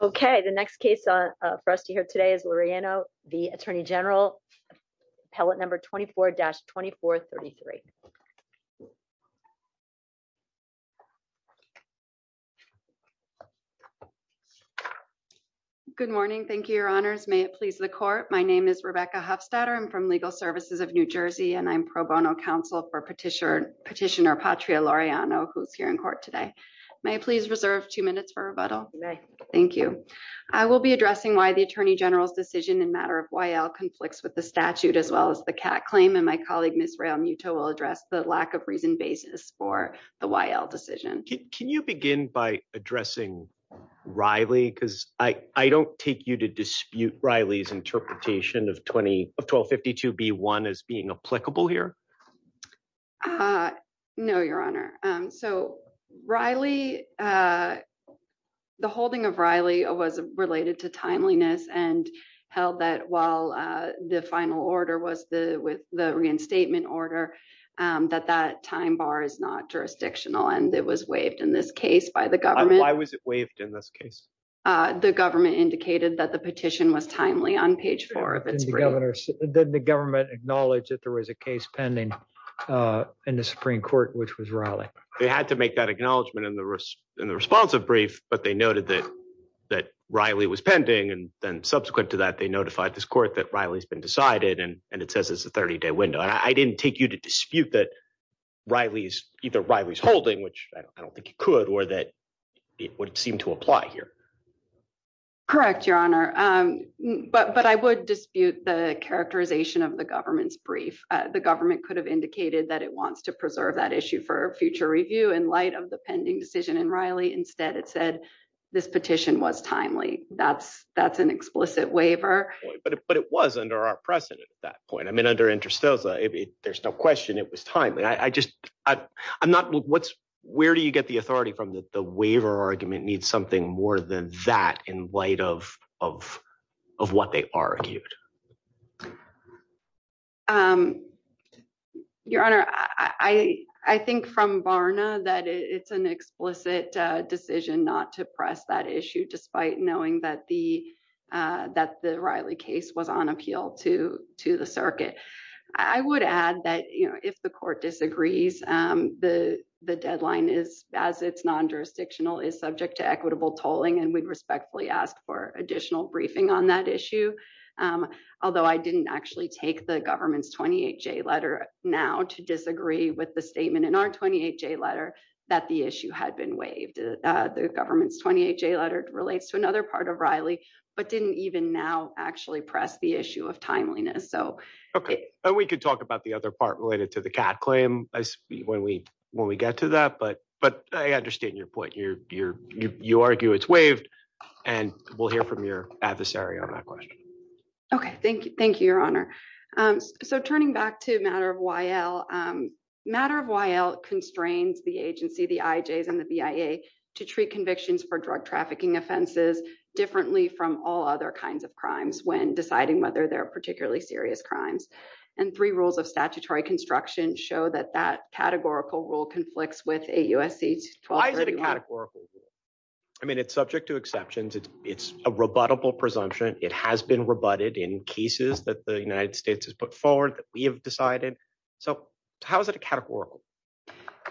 Okay, the next case for us to hear today is Laureano v. Attorney General, appellate number 24-2433. Good morning. Thank you, your honors. May it please the court. My name is Rebecca Hofstadter. I'm from Legal Services of New Jersey, and I'm pro bono counsel for petitioner, Petitioner Patria Laureano, who's here in court today. May I please reserve two minutes for rebuttal? May. Thank you. I will be addressing why the Attorney General's decision in matter of YL conflicts with the statute as well as the CAC claim and my colleague Ms. Rael Muto will address the lack of reason basis for the YL decision. Can you begin by addressing Riley because I don't take you to dispute Riley's interpretation of 1252 B1 as being applicable here. No, your honor. So, Riley, the holding of Riley was related to timeliness and held that while the final order was the with the reinstatement order that that time bar is not jurisdictional and it was waived in this case by the government. Why was it waived in this case? The government indicated that the petition was timely on page four. Then the government acknowledged that there was a case pending in the Supreme Court, which was Riley. They had to make that acknowledgement in the in the responsive brief, but they noted that that Riley was pending. And then subsequent to that, they notified this court that Riley's been decided and and it says it's a 30 day window. I didn't take you to dispute that Riley's either Riley's holding, which I don't think it could or that it would seem to apply here. Correct, your honor. But I would dispute the characterization of the government's brief, the government could have indicated that it wants to preserve that issue for future review in light of the pending decision and Riley instead it said this petition was timely, that's, that's an explicit waiver. But it was under our precedent at that point. I mean under interstitial, there's no question it was timely. I just, I'm not what's, where do you get the authority from that the waiver argument needs something more than that in light of, of, of what they argued. Um, your honor, I, I think from Barna that it's an explicit decision not to press that issue despite knowing that the that the Riley case was on appeal to to the circuit. I would add that, you know, if the court disagrees, the, the deadline is as it's non jurisdictional is subject to equitable tolling and we'd respectfully ask for additional briefing on that issue. Although I didn't actually take the government's 28 J letter now to disagree with the statement in our 28 J letter that the issue had been waived the government's 28 J letter relates to another part of Riley, but didn't even now actually press the issue of timeliness so we could talk about the other part related to the cat claim as when we, when we get to that but but I understand your point you're, you're, you argue it's waived and we'll hear from your adversary on that question. Okay, thank you. Thank you, Your Honor. So turning back to matter of while matter of while constrains the agency the IJs and the BIA to treat convictions for drug trafficking offenses differently from all other kinds of crimes when deciding whether they're particularly serious crimes, and three rules of statutory construction show that that categorical rule conflicts with a USC. I mean it's subject to exceptions, it's, it's a rebuttable presumption, it has been rebutted in cases that the United States has put forward that we have decided. So, how is it a categorical,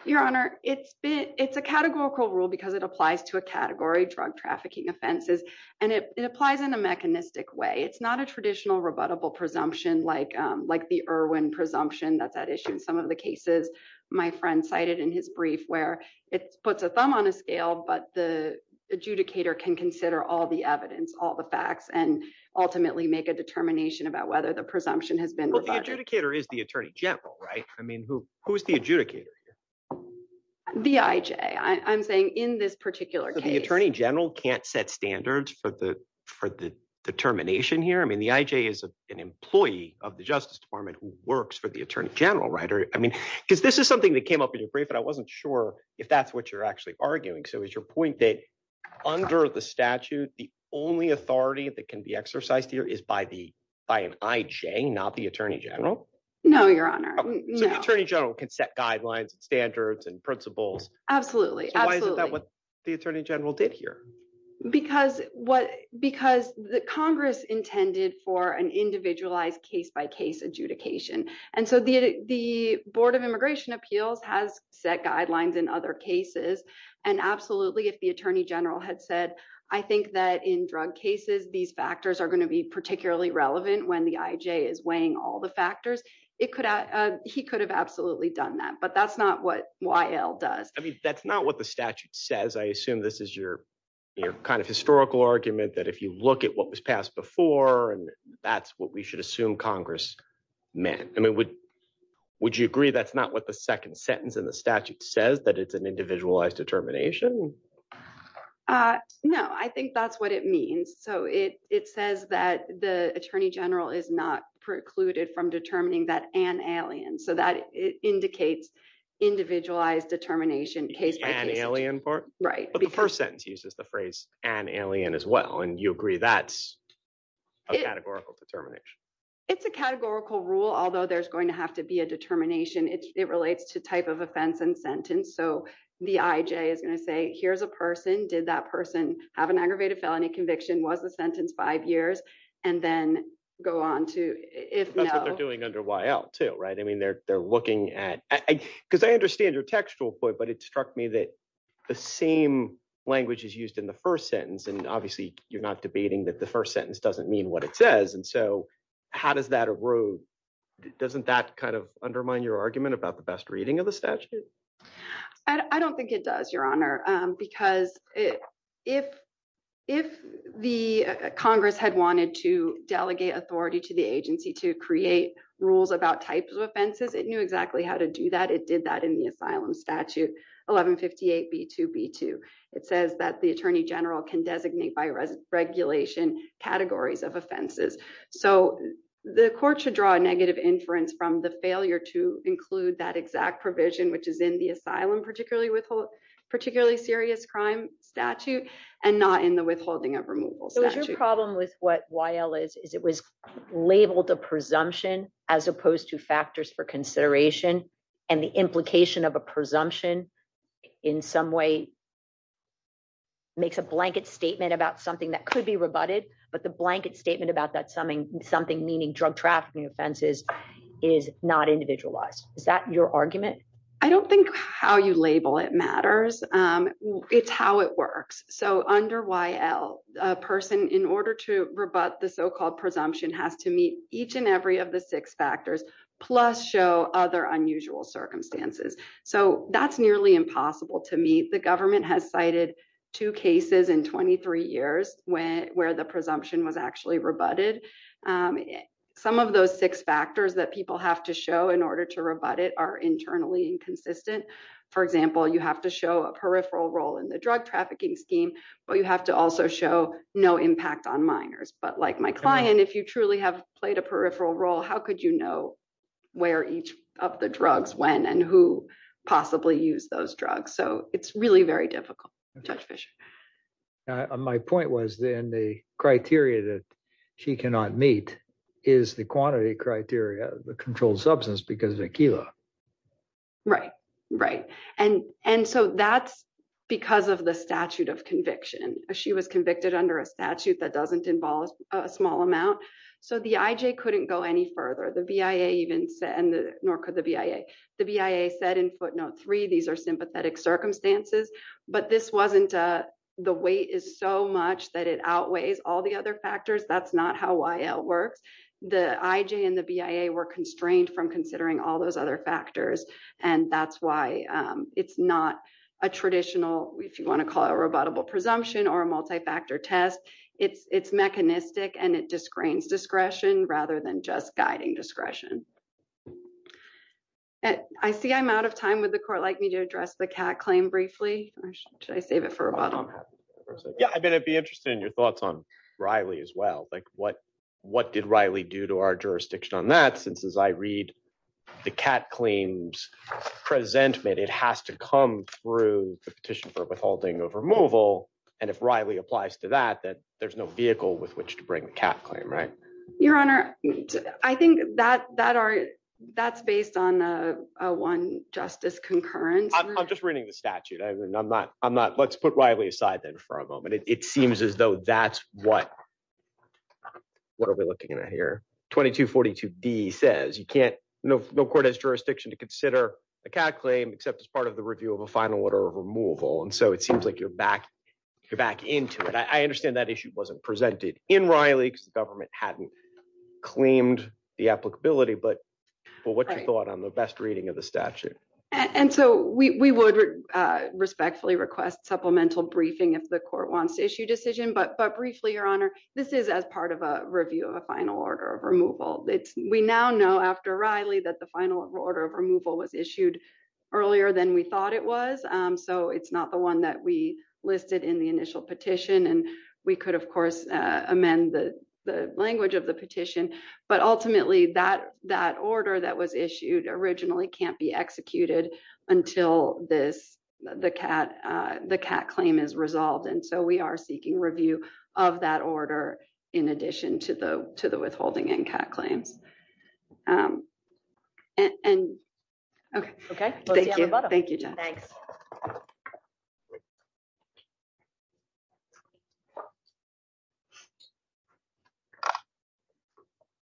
Your Honor, it's been, it's a categorical rule because it applies to a category drug trafficking offenses, and it applies in a mechanistic way it's not a traditional rebuttable presumption like, like the Irwin presumption that's at issue in some of the cases, my friend cited in his brief where it puts a thumb on a scale but the adjudicator can consider all the evidence all the facts and ultimately make a determination about whether the presumption has been adjudicator is the Attorney General right i mean who, who's the adjudicator. The IJ I'm saying in this particular case the Attorney General can't set standards for the for the determination here I mean the IJ is an employee of the Justice Department works for the Attorney General writer, I mean, because this is something that came up in your brief but I wasn't sure if that's what you're actually arguing so is your point that under the statute, the only authority that can be exercised here is by the by an IJ not the Attorney General. No, Your Honor, Attorney General can set guidelines standards and principles. Absolutely. The Attorney General did here, because what, because the Congress intended for an individualized case by case adjudication. And so the, the Board of Immigration Appeals has set guidelines and other cases. And absolutely if the Attorney General had said, I think that in drug cases these factors are going to be particularly relevant when the IJ is weighing all the factors, it could, he could have absolutely done that but that's not what yl does. I mean, that's not what the statute says I assume this is your, your kind of historical argument that if you look at what was passed before and that's what we should assume Congress, man, I mean, would, would you agree that's not what the second sentence in the statute says that it's an individualized determination. No, I think that's what it means so it, it says that the Attorney General is not precluded from determining that an alien so that indicates individualized determination case by an alien part, right, but the first sentence uses the phrase, an alien as well and you agree that's a categorical determination. It's a categorical rule although there's going to have to be a determination it relates to type of offense and sentence so the IJ is going to say here's a person did that person have an aggravated felony conviction was the sentence five years, and then go on to, if they're doing under why out to right I mean they're, they're looking at, because I understand your textual point but it struck me that the same language is used in the first sentence and obviously you're not debating that the first sentence doesn't mean what it says and so how does that a road. Doesn't that kind of undermine your argument about the best reading of the statute. I don't think it does, Your Honor, because if, if the Congress had wanted to delegate authority to the agency to create rules about types of offenses it knew exactly how to do that it did that in the asylum statute 1158 b to b to it says that the Attorney General's in the asylum particularly withhold particularly serious crime statute, and not in the withholding of removal so there's a problem with what yl is is it was labeled a presumption, as opposed to factors for consideration, and the implication of a presumption in some way makes a blanket statement about something that could be rebutted, but the blanket statement about that something, something meaning drug trafficking offenses is not individualized, is that your argument. I don't think how you label it matters. It's how it works. So under yl person in order to rebut the so called presumption has to meet each and every of the six factors, plus show other unusual circumstances. So that's nearly impossible to meet the government has cited two cases in 23 years, when, where the presumption was actually rebutted. Some of those six factors that people have to show in order to rebut it are internally inconsistent. For example, you have to show a peripheral role in the drug trafficking scheme, but you have to also show no impact on minors but like my client if you really have played a peripheral role, how could you know where each of the drugs when and who possibly use those drugs so it's really very difficult. My point was then the criteria that she cannot meet is the quantity criteria, the controlled substance because of a kilo. Right, right. And, and so that's because of the statute of conviction, she was convicted under a statute that doesn't involve a small amount. So the IJ couldn't go any further the BIA even said, nor could the BIA, the BIA said in footnote three these are But this wasn't the weight is so much that it outweighs all the other factors that's not how it works. The IJ and the BIA were constrained from considering all those other factors. And that's why it's not a traditional, if you want to call it a rebuttable presumption or a multi factor test, it's it's mechanistic and it just grains discretion rather than just guiding discretion. And I see I'm out of time with the court like me to address the cat claim briefly, or should I save it for a bottle. Yeah, I'd be interested in your thoughts on Riley as well like what, what did Riley do to our jurisdiction on that since as I read the cat claims present made it has to come through the petition for withholding of removal. And if Riley applies to that that there's no vehicle with which to bring the cat claim right. Your Honor. I think that that are that's based on one justice concurrent. I'm just reading the statute I mean I'm not, I'm not let's put Riley aside then for a moment it seems as though that's what, what are we looking at here. 2242 D says you can't know no court has jurisdiction to consider the cat claim except as part of the review of a final order of removal and so it seems like you're back. You're back into it I understand that issue wasn't presented in Riley because the government hadn't claimed the applicability but what you thought on the best reading of the statute. And so we would respectfully request supplemental briefing if the court wants to issue decision but but briefly Your Honor. This is as part of a review of a final order of removal, it's, we now know after Riley that the final order of removal was issued earlier than we thought it was. So it's not the one that we listed in the initial petition and we could of course amend the language of the petition, but ultimately that that order that was issued originally can't be executed until this, the cat. That claim is resolved and so we are seeking review of that order. In addition to the, to the withholding and cat claims. And. Okay, thank you. Thank you. Thanks.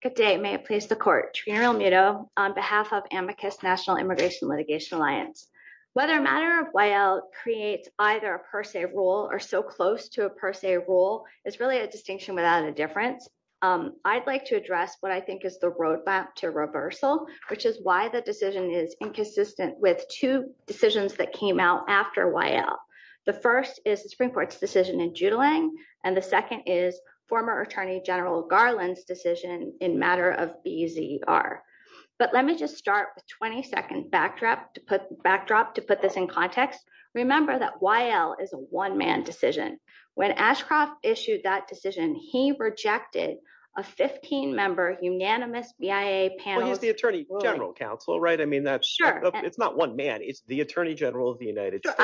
Good day may place the court, you know, on behalf of amicus National Immigration Litigation Alliance, whether a matter of while creates either a per se rule or so close to a per se rule is really a distinction without a difference. I'd like to address what I think is the roadmap to reversal, which is why the decision is inconsistent with two decisions that came out after while the first is the Supreme Court's decision in July, and the second is former Attorney General Garland Garland's decision in matter of easy are. But let me just start with 22nd backdrop to put backdrop to put this in context. Remember that while is a one man decision when Ashcroft issued that decision he rejected a 15 member unanimous via panels the Attorney General counsel right I mean that's sure it's not one man is the Attorney General of the United States.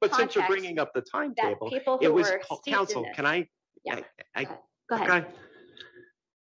But since you're bringing up the time that people can I.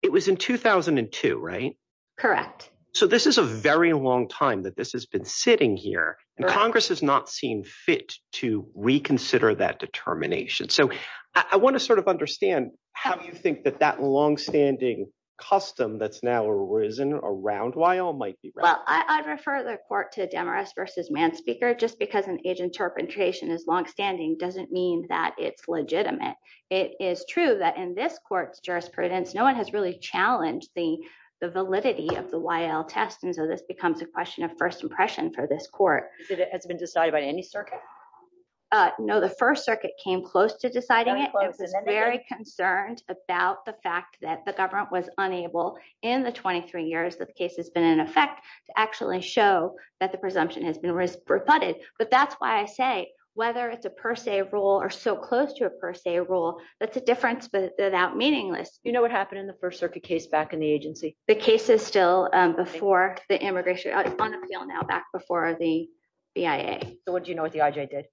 It was in 2002 right. Correct. So this is a very long time that this has been sitting here, and Congress has not seen fit to reconsider that determination so I want to sort of understand how you think that that long standing custom that's now arisen around why all might be. Well, I refer the court to Demarest versus man speaker just because an agent interpretation is long standing doesn't mean that it's legitimate. It is true that in this court's jurisprudence no one has really challenged the validity of the while test and so this becomes a question of first impression for this court has been decided by any circuit. No, the First Circuit came close to deciding it was very concerned about the fact that the government was unable in the 23 years that the case has been in effect to actually show that the presumption has been reported, but that's why I say, whether it's a per se rule or so close to a per se rule, that's a difference but without meaningless, you know what happened in the First Circuit case back in the agency, the cases still before the immigration on appeal now back before the BIA, so what do you know what the idea did.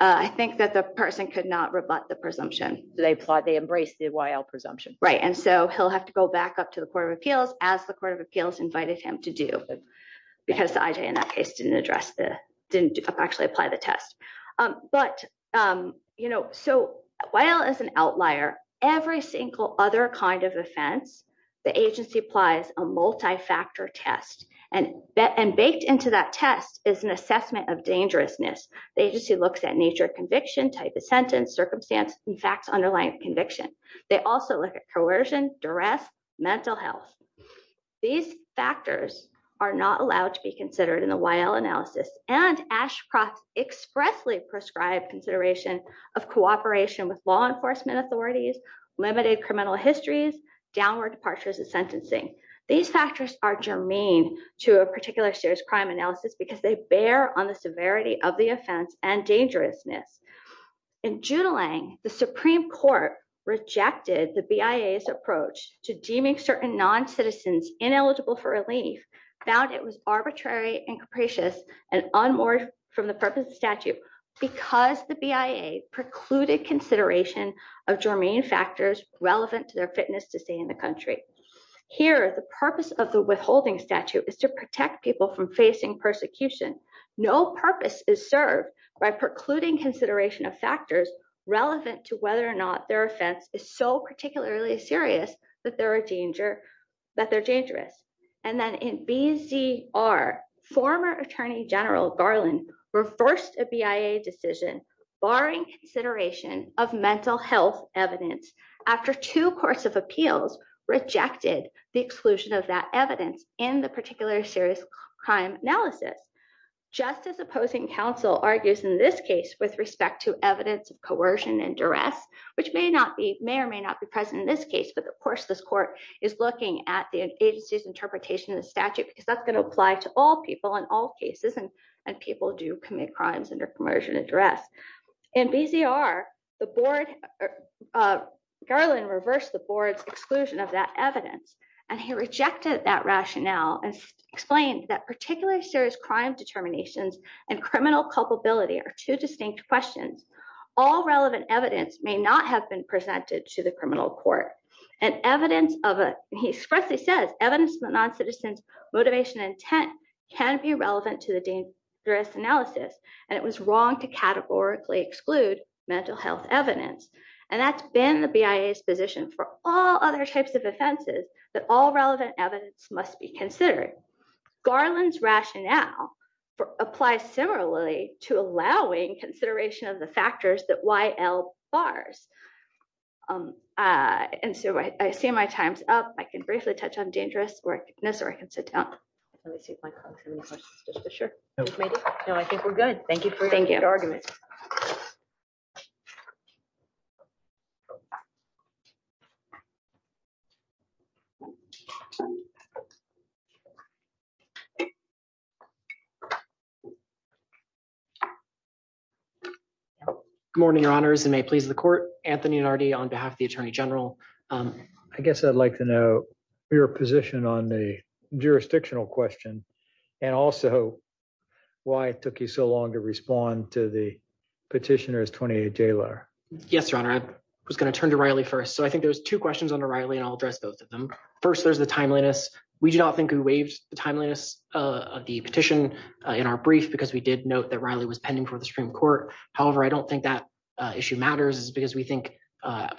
I think that the person could not rebut the presumption, they apply they embrace the while presumption right and so he'll have to go back up to the Court of Appeals, as the Court of Appeals invited him to do. Because the idea in that case didn't address the didn't actually apply the test. But, you know, so, while as an outlier every single other kind of offense. The agency applies a multi factor test and bet and baked into that test is an assessment of dangerousness agency looks at nature conviction type of sentence circumstance facts underlying conviction. They also look at coercion duress mental health. These factors are not allowed to be considered in the while analysis, and Ashcroft expressly prescribed consideration of cooperation with law enforcement authorities limited criminal histories downward departures of sentencing. These factors are germane to a particular serious crime analysis because they bear on the severity of the offense and dangerousness in July, the Supreme Court rejected the bias approach to deeming certain non citizens ineligible for relief found it was arbitrary and capricious and on board from the purpose of statute, because the BIA precluded consideration of germane factors relevant to their fitness to stay in the country here the purpose of the withholding statute is to protect people from facing persecution. No purpose is served by precluding consideration of factors relevant to whether or not their offense is so particularly serious that there are danger that they're dangerous. And then in BC are former Attorney General Garland reversed a BIA decision, barring consideration of mental health evidence. After two courts of appeals rejected the exclusion of that evidence in the particular serious crime analysis. Just as opposing counsel argues in this case with respect to evidence of coercion and duress, which may not be may or may not be present in this case but of course this court is looking at the agencies interpretation of the statute because that's going to people in all cases and and people do commit crimes under commercial address and busy are the board. Garland reverse the board's exclusion of that evidence, and he rejected that rationale and explained that particularly serious crime determinations and criminal culpability are two distinct questions. All relevant evidence may not have been presented to the criminal court and evidence of a he expressly says evidence but non citizens motivation intent can be relevant to the dangerous analysis, and it was wrong to categorically exclude mental health evidence, and that's been the bias position for all other types of offenses that all relevant evidence must be considered Garland's rationale for apply similarly to allowing consideration of the factors that why l bars. And so I see my time's up, I can briefly touch on dangerous or necessary can sit down. Sure. No, I think we're good. Thank you. Thank you. Morning, your honors and may please the court, Anthony and already on behalf of the Attorney General. I guess I'd like to know your position on the jurisdictional question. And also, why it took you so long to respond to the petitioners 28 J letter. Yes, Your Honor, I was going to turn to Riley first so I think there's two questions on the Riley and I'll address both of them. First, there's the timeliness, we do not think we waived the timeliness of the petition in our brief because we did note that Riley was pending for the Supreme Court. However, I don't think that issue matters is because we think,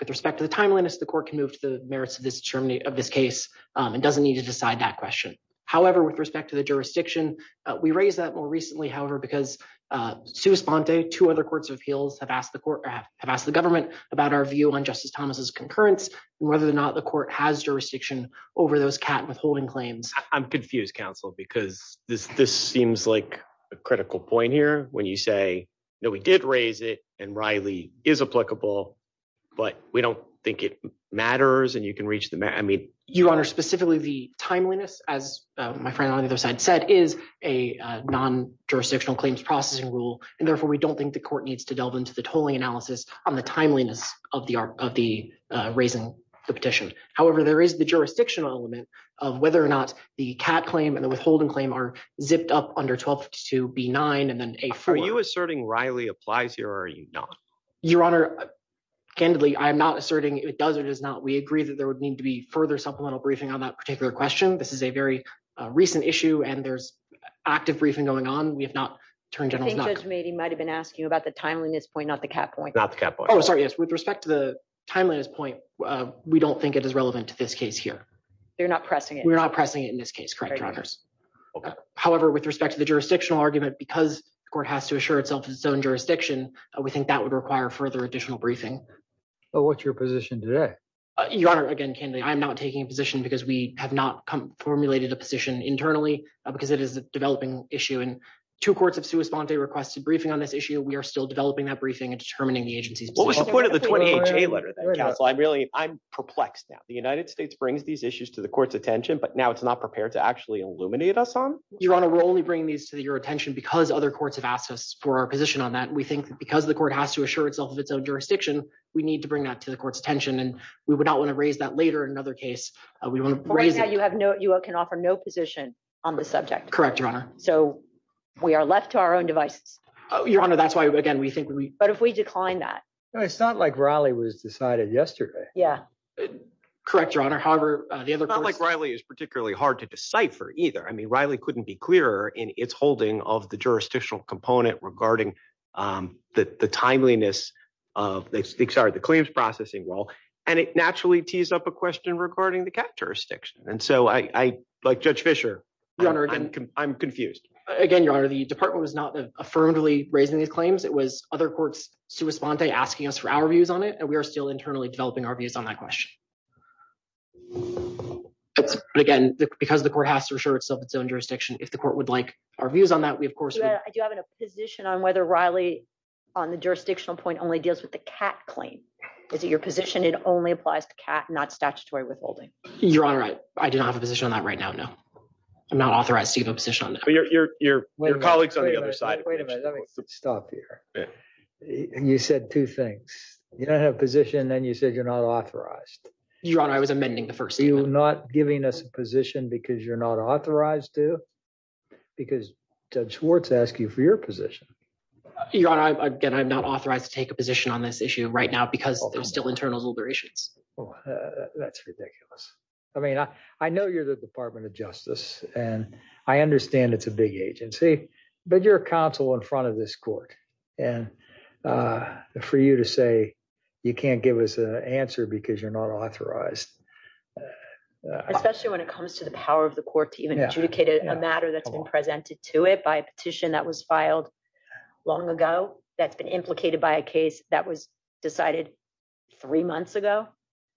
with respect to the timeliness the court can move to the merits of this journey of this case, and doesn't need to decide that question. However, with respect to the jurisdiction. We raised that more recently however because to respond to two other courts of appeals have asked the court have asked the government about our view on Justice Thomas's concurrence, whether or not the court has jurisdiction over those cat withholding claims, I'm confused counsel because this this seems like a critical point here when you say, No, we did raise it, and Riley is applicable, but we don't think it matters and you can reach the man I mean, you are specifically the timeliness, as my friend on the other side said is a non jurisdictional claims processing rule, and therefore we don't think the court needs to delve into the tolling analysis on the timeliness of the of the raising the petition. However, there is the jurisdictional element of whether or not the cat claim and the withholding claim are zipped up under 12 to be nine and then a for you asserting Riley applies here are you not, Your Honor. Candidly, I'm not asserting it does or does not we agree that there would need to be further supplemental briefing on that particular question. This is a very recent issue and there's active briefing going on, we have not turned judgment he might have been asking you about the timeliness point not the cat point not the cat boy Oh sorry yes with respect to the timeliness point. We don't think it is relevant to this case here. They're not pressing it we're not pressing it in this case correct runners. However, with respect to the jurisdictional argument because the court has to assure itself its own jurisdiction, we think that would require further additional briefing. What's your position today. Your Honor, again, can they I'm not taking a position because we have not come formulated a position internally, because it is a developing issue and to courts of suicide requested briefing on this issue we are still developing that briefing and determining the agency's what was the point of the letter that I'm really I'm perplexed now the United States brings these issues to the court's attention but now it's not prepared to actually illuminate us on your honor we're only bringing these to your attention because other courts have asked us for our position on that we think because the court has to assure itself of its own jurisdiction, we need to bring that to the court's attention and we would not want to raise that later in another case, we want to raise that you have no you can offer no position on the subject correct run, so we are left to our own devices. Your Honor, that's why again we think we, but if we decline that it's not like Raleigh was decided yesterday. Yeah. Correct. Your Honor, however, the other like Riley is particularly hard to decipher either I mean Riley couldn't be clearer in its holding of the jurisdictional component regarding the timeliness of the sorry the claims processing role, and it naturally again, because the court has to assure itself its own jurisdiction, if the court would like our views on that we of course we do have a position on whether Riley on the jurisdictional point only deals with the cat claim. Is it your position it only applies to cat not statutory withholding. Your Honor, I did not have a position on that right now no I'm not authorized to have a position on your, your, your colleagues on the other side. Stop here. You said two things, you don't have position then you said you're not authorized. You're on I was amending the first you not giving us a position because you're not authorized to, because Judge Schwartz ask you for your position. Your Honor, I get I'm not authorized to take a position on this issue right now because there's still internal deliberations. That's ridiculous. I mean, I know you're the Department of Justice, and I understand it's a big agency, but your counsel in front of this court, and for you to say you can't give us an answer because you're not authorized. Especially when it comes to the power of the court to even adjudicate a matter that's been presented to it by a petition that was filed. Long ago, that's been implicated by a case that was decided three months ago.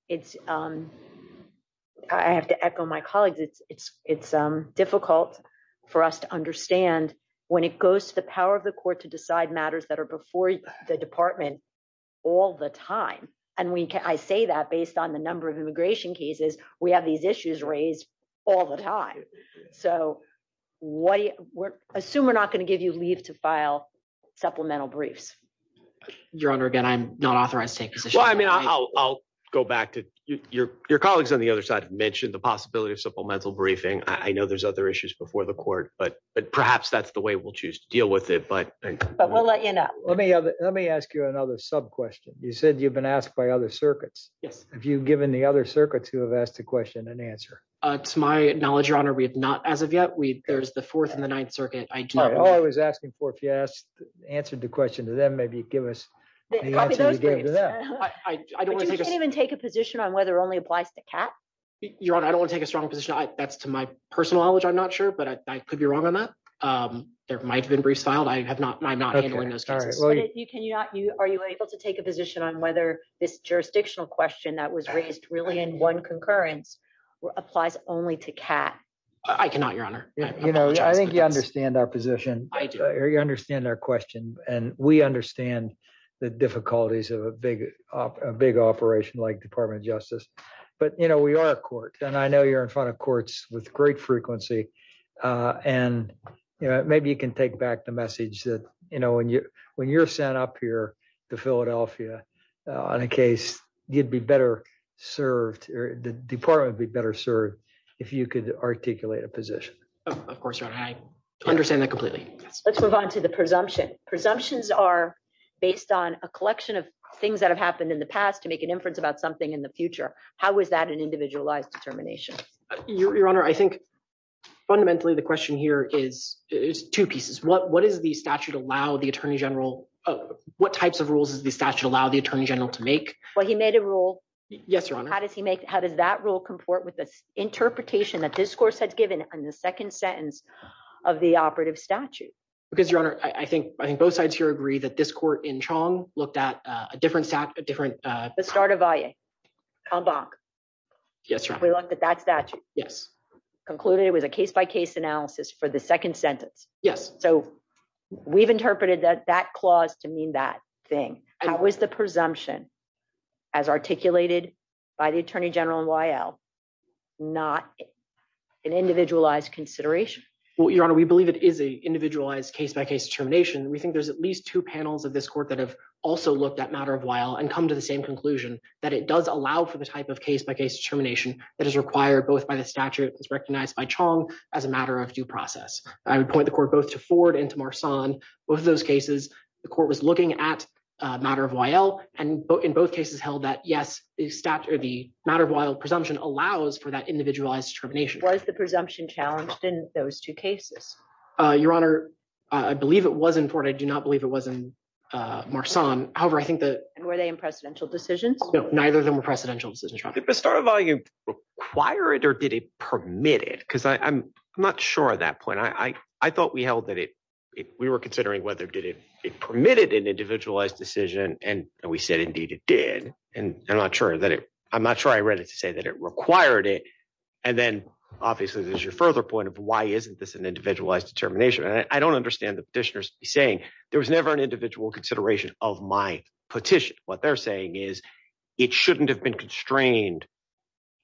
It's. I have to echo my colleagues, it's, it's, it's difficult for us to understand when it goes to the power of the court to decide matters that are before the department, all the time. And we can I say that based on the number of immigration cases, we have these issues raised all the time. So, what do you assume we're not going to give you leave to file supplemental briefs. Well, I mean, I'll go back to your, your colleagues on the other side mentioned the possibility of supplemental briefing, I know there's other issues before the court, but, but perhaps that's the way we'll choose to deal with it but, but we'll let you know, let me, let me ask you another sub question. You said you've been asked by other circuits. Yes. Have you given the other circuits who have asked a question and answer. It's my knowledge your honor we have not as of yet we there's the fourth and the ninth circuit. I was asking for if you asked answered the question to them maybe give us. I don't even take a position on whether only applies to cat. You're on I don't want to take a strong position I that's to my personal knowledge I'm not sure but I could be wrong on that. There might have been restyled I have not I'm not going to start you can you not you are you able to take a position on whether this jurisdictional question that was raised really in one concurrence applies only to cat. I cannot your honor, you know, I think you understand our position. I do you understand our question, and we understand the difficulties of a big, big operation like Department of Justice, but you know we are a court, and I know you're in front of courts with great frequency, and maybe you can take back the message that, you know, when you, when you're sent up here to Philadelphia, on a case, you'd be better served the department be better served. If you could articulate a position. Of course, I understand that completely. Let's move on to the presumption presumptions are based on a collection of things that have happened in the past to make an inference about something in the future. How is that an individualized determination, your honor I think fundamentally the question here is, is two pieces what what is the statute allow the Attorney General. What types of rules is the statute allow the Attorney General to make what he made a rule. Yes, your honor, how does he make how does that rule comport with this interpretation that this course has given on the second sentence of the operative statute, because your honor, I think, I think both sides here agree that this court in Chong looked at a different stack of different. The start of it. Yes, we love that that's that. Yes, concluded it was a case by case analysis for the second sentence. Yes. So, we've interpreted that that clause to mean that thing. How is the presumption as articulated by the Attorney General and why l, not an individualized consideration. Well your honor we believe it is a individualized case by case termination we think there's at least two panels of this court that have also looked at matter of while and come to the same conclusion that it does allow for the type of case by case termination, that is required both by the statute is recognized by Chong, as a matter of due process, I would point the court both to forward into more son, both of those cases, the court was looking at matter of while, and both in both cases held that yes, the statute of the matter while presumption allows for that individualized termination was the presumption challenged in those two cases. Your Honor, I believe it wasn't for I do not believe it wasn't more son, however I think that were they in precedential decisions, neither the more precedential decisions from the start of volume required or did it permitted because I'm not sure at that point I, I thought we held that it. We were considering whether did it permitted an individualized decision, and we said indeed it did, and I'm not sure that it. I'm not sure I read it to say that it required it. And then, obviously, there's your further point of why isn't this an individualized determination and I don't understand the petitioners saying there was never an individual consideration of my petition, what they're saying is, it shouldn't have been constrained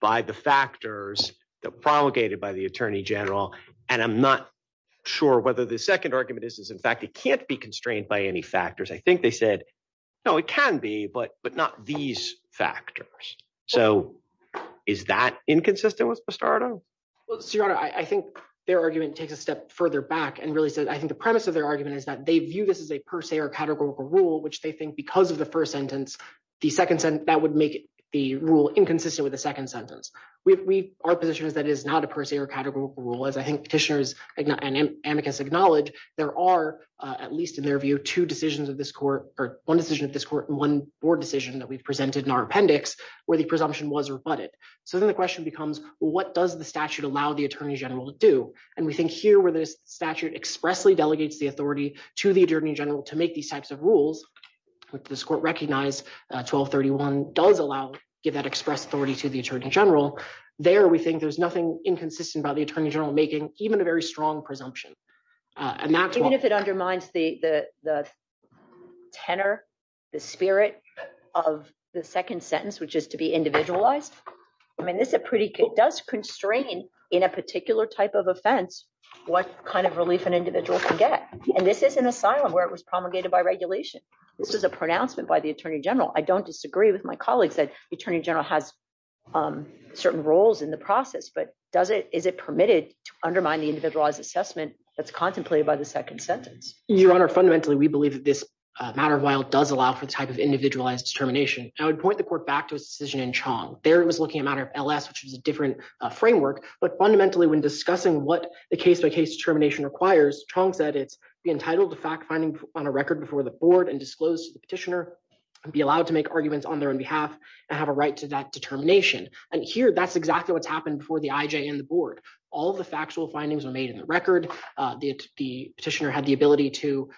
by the factors that general, and I'm not sure whether the second argument is is in fact it can't be constrained by any factors I think they said, no, it can be but but not these factors. So, is that inconsistent with the start of your honor I think their argument takes a step further back and really said I think the premise of their argument is that they view this as a per se or categorical rule which they think because of the first sentence, the second sentence that would make the rule inconsistent with the second sentence, we are positioned as that is not a per se or categorical rule as I think petitioners and amicus acknowledge there are at least in their view two decisions of this court, or one decision of this court and one board decision that we've presented in our appendix, where the presumption was rebutted. So then the question becomes, what does the statute allow the Attorney General to do, and we think here where this statute expressly delegates the authority to the Attorney General to make these types of rules with this court recognize 1231 does allow give that express authority to the Attorney General. There we think there's nothing inconsistent by the Attorney General making even a very strong presumption. And that's what if it undermines the, the, the tenor, the spirit of the second sentence which is to be individualized. I mean this is a pretty good does constrain in a particular type of offense. What kind of relief and individual to get, and this is an asylum where it was promulgated by regulation. This is a pronouncement by the Attorney General I don't disagree with my colleagues that Attorney General has certain roles in the process but does it is it permitted to undermine the individualized assessment that's contemplated by the second sentence, your honor fundamentally we believe that this matter while does allow for the type of individualized termination, I would point the court back to a decision in Chong, there was looking at matter of LS which is a different framework, but fundamentally when discussing what the case by case termination requires Chong said it's entitled to fact finding on a record before the board and disclose petitioner be allowed to make arguments on their own behalf, and have a right to that determination. And here that's exactly what's happened for the IJ and the board. All the factual findings are made in the record. The petitioner had the ability to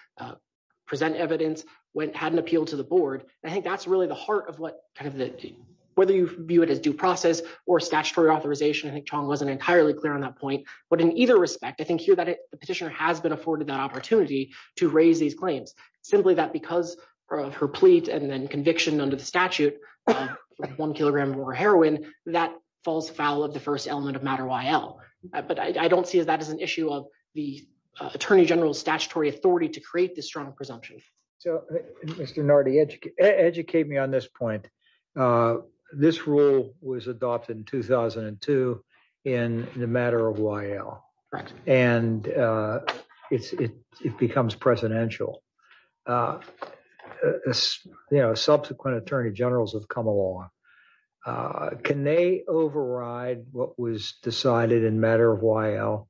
present evidence went had an appeal to the board. I think that's really the heart of what kind of the, whether you view it as due process or statutory authorization I think Chong wasn't entirely clear on that point, but in either respect I think here that the petitioner has been afforded that opportunity to raise these claims, simply that because her of her pleads and then conviction under the statute. One kilogram heroin that falls foul of the first element of matter while, but I don't see that as an issue of the Attorney General statutory authority to create the strong presumption. So, Mr. Nardi educate educate me on this point. This rule was adopted in 2002 in the matter of while, and it's it becomes presidential. You know subsequent Attorney Generals have come along. Can they override what was decided in matter of while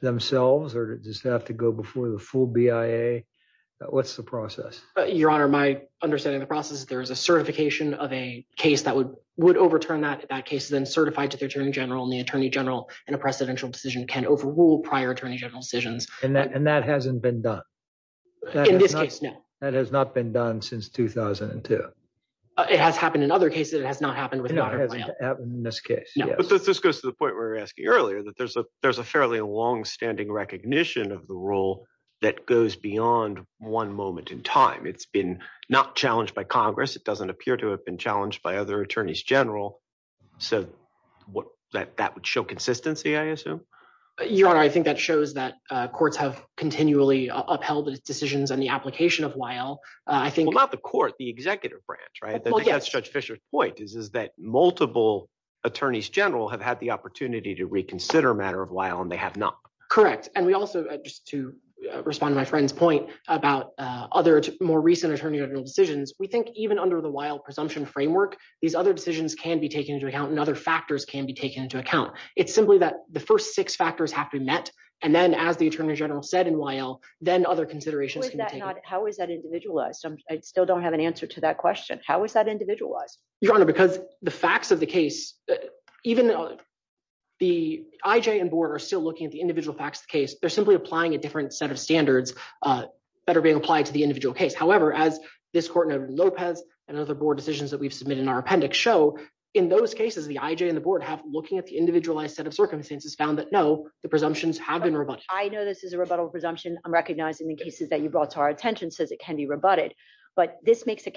themselves or does that have to go before the full BIA. What's the process, Your Honor, my understanding the process there is a certification of a case that would would overturn that that case then certified to the Attorney General and the Attorney General, and a presidential decision can overrule prior Attorney General decisions, and that and that hasn't been done. That has not been done since 2002. It has happened in other cases it has not happened with this case, this goes to the point we were asking earlier that there's a there's a fairly long standing recognition of the role that goes beyond one moment in time it's been not challenged by Congress, it doesn't show consistency I assume. Your Honor, I think that shows that courts have continually upheld the decisions and the application of while I think about the court the executive branch right judge Fisher point is is that multiple attorneys general have had the opportunity to reconsider matter of while and they have not correct and we also just to respond to my friend's point about other more recent Attorney General decisions we think even under the while presumption framework. These other decisions can be taken into account and other factors can be taken into account. It's simply that the first six factors have to be met. And then as the Attorney General said in while, then other considerations. How is that individualized I still don't have an answer to that question, how is that individualized your honor because the facts of the case, even the IJ and board are still looking at the individual facts of the case, they're simply applying a different set of standards that are being applied to the individual case however as this court of Lopez and other board decisions that we've submitted in our appendix show in those cases the IJ and the board have looking at the individualized set of circumstances found that know the presumptions have been rebutted I know this is a rebuttal presumption, I'm recognizing the cases that you brought to our attention says it can be rebutted. But this makes it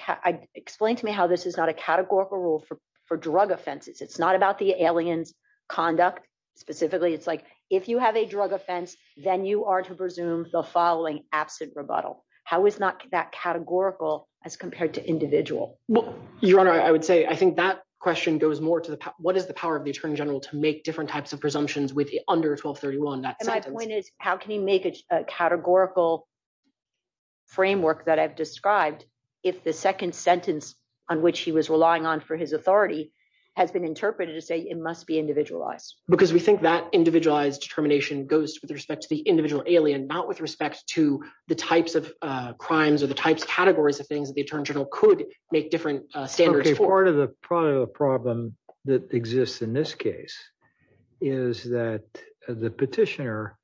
explain to me how this is not a categorical rule for for drug offenses it's not about the aliens conduct, specifically it's like, if you have a drug offense, then you are to presume the following absent rebuttal, how is not that categorical as compared to individual. Well, your honor, I would say I think that question goes more to the, what is the power of the Attorney General to make different types of presumptions with under 1231 that my point is, how can you make a categorical framework that I've described. If the second sentence on which he was relying on for his authority has been interpreted to say it must be individualized, because we think that individualized determination goes with respect to the individual alien not with respect to the types of crimes or the types categories of things that the Attorney General could make different standards for the part of the problem that exists in this case is that the petitioner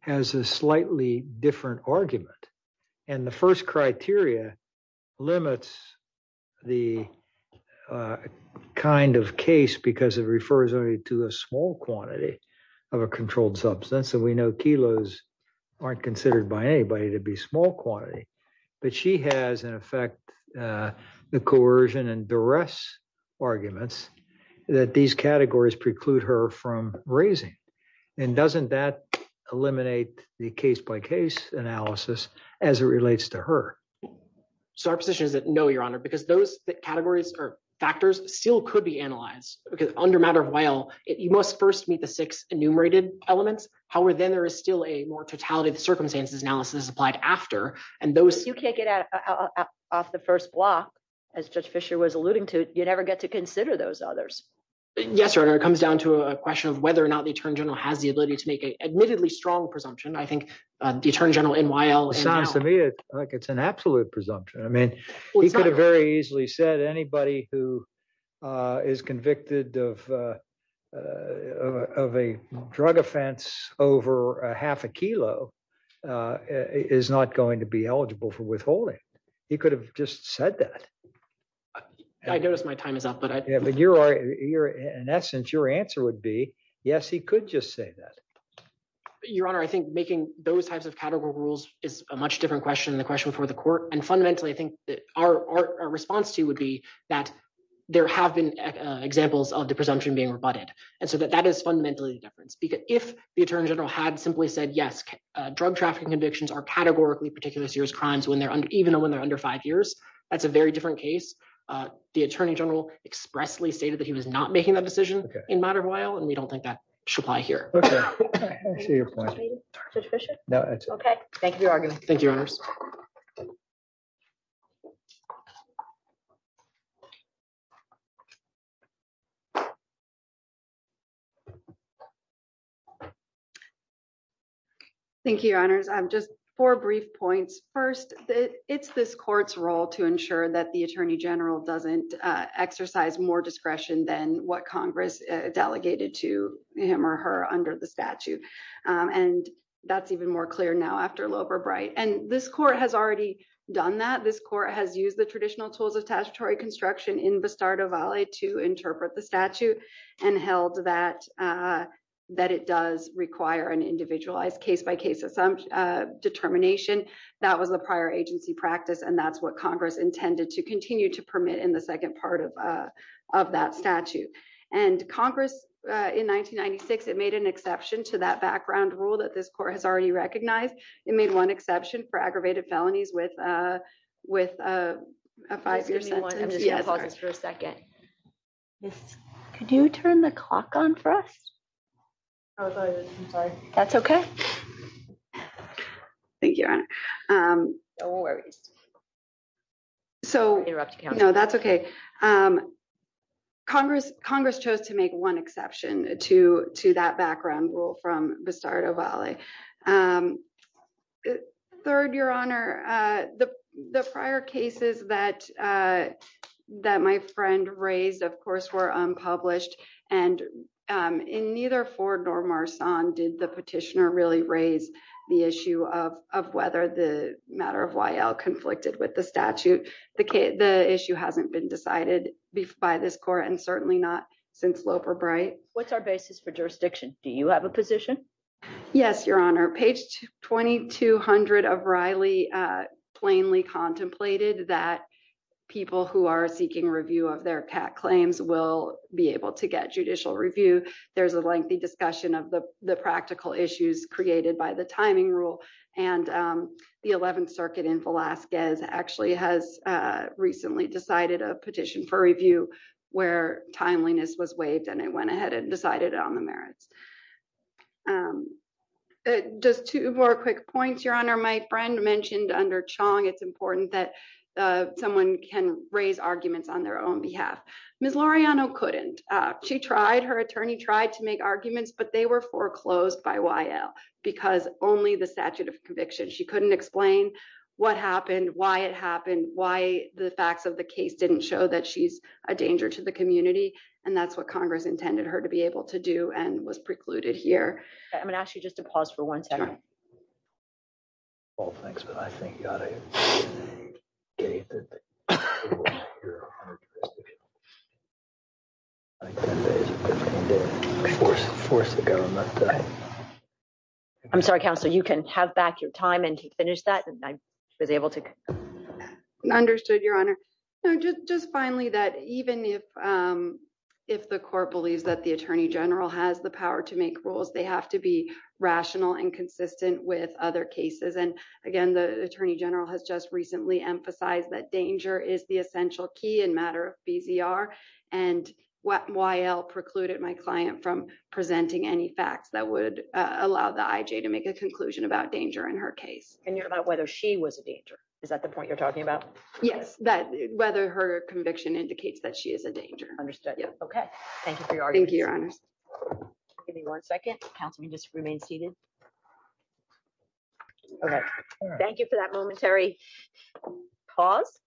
has a slightly different argument. And the first criteria limits, the kind of case because it refers only to a small quantity of a controlled substance that we know kilos aren't considered by anybody to be small quantity, but she has an effect. The coercion and the rest arguments that these categories preclude her from raising and doesn't that eliminate the case by case analysis, as it relates to her. So our position is that no your honor because those categories are factors, still could be analyzed, because under matter of while it you must first meet the six enumerated elements, however, then there is still a more totality of circumstances analysis applied after, and those you can't get out of the first block, as just Fisher was alluding to, you never get to consider those others. Yes, sir, it comes down to a question of whether or not the Attorney General has the ability to make a admittedly strong presumption I think the Attorney General in while it sounds to me like it's an absolute presumption I mean, he could have very easily said anybody who is convicted of, of a drug offense over half a kilo is not going to be eligible for withholding. He could have just said that. I noticed my time is up but I but you're you're in essence your answer would be yes he could just say that. Your Honor I think making those types of category rules is a much different question the question for the court and fundamentally I think that our response to would be that there have been examples of the presumption being rebutted, and so that that is fundamentally different because if the Attorney General had simply said yes drug trafficking convictions are categorically particular serious crimes when they're even when they're under five years. That's a very different case. The Attorney General expressly stated that he was not making that decision in matter of while and we don't think that should apply here. Your point. No. Okay, thank you. Thank you. Thank you. Thank you, honors I'm just for brief points. First, it's this court's role to ensure that the Attorney General doesn't exercise more discretion than what Congress delegated to him or her under the statute. And that's even more clear now after a little bit bright and this court has already done that this court has used the traditional tools of statutory construction in the start of LA to interpret the statute and held that that it does require an individualized case by case assumption determination. That was the prior agency practice and that's what Congress intended to continue to permit in the second part of, of that statute, and Congress in 1996 it made an exception to that background rule that this court has already recognized it made one exception for aggravated felonies with, with a five year sentence for a second. Can you turn the clock on for us. That's okay. Thank you. Don't worry. So, you know, that's okay. Congress, Congress chose to make one exception to to that background rule from the start of LA. Third, Your Honor. The, the prior cases that that my friend raised of course were unpublished, and in neither Ford nor Mars on did the petitioner really raise the issue of, of whether the matter of why l conflicted with the statute, the case, the issue hasn't been decided by this court and certainly not since Loper bright, what's our basis for jurisdiction, do you have a position. Yes, Your Honor page 2200 of Riley plainly contemplated that people who are seeking review of their cat claims will be able to get judicial review, there's a lengthy discussion of the, the practical issues created by the timing rule, and the 11th of Alaska is actually has recently decided a petition for review, where timeliness was waived and it went ahead and decided on the merits. Just two more quick points Your Honor my friend mentioned under Chong it's important that someone can raise arguments on their own behalf. Miss Laureano couldn't. She tried her attorney tried to make arguments but they were foreclosed by while because only the statute of conviction she couldn't explain what happened, why it happened, why the facts of the case didn't show that she's a danger to the community. And that's what Congress intended her to be able to do and was precluded here. I'm going to ask you just to pause for one second. Oh, thanks, but I think force the government. I'm sorry Council you can have back your time and finish that I was able to understood Your Honor. Just finally that even if, if the court believes that the Attorney General has the power to make rules they have to be rational and consistent with other cases and again the Attorney General has just recently emphasized that danger is the essential key and matter of BZR and what YL precluded my client from presenting any facts that would allow the IJ to make a conclusion about danger in her case, and you're about whether she was a danger. Is that the point you're talking about, yes, that whether her conviction indicates that she is a danger understood. Yeah. Okay. Thank you. Thank you. Give me one second, Councilman just remain seated. Okay, thank you for that momentary pause,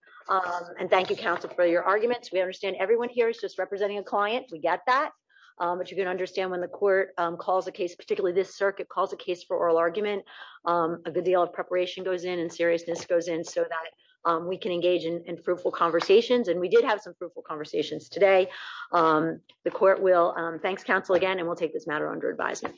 and thank you Council for your arguments we understand everyone here is just representing a client, we get that. But you can understand when the court calls a case particularly this circuit calls a case for oral argument, a good deal of preparation goes in and seriousness goes in so that we can engage in fruitful conversations and we did have some fruitful conversations today. The court will thanks counsel again and we'll take this matter under advisement.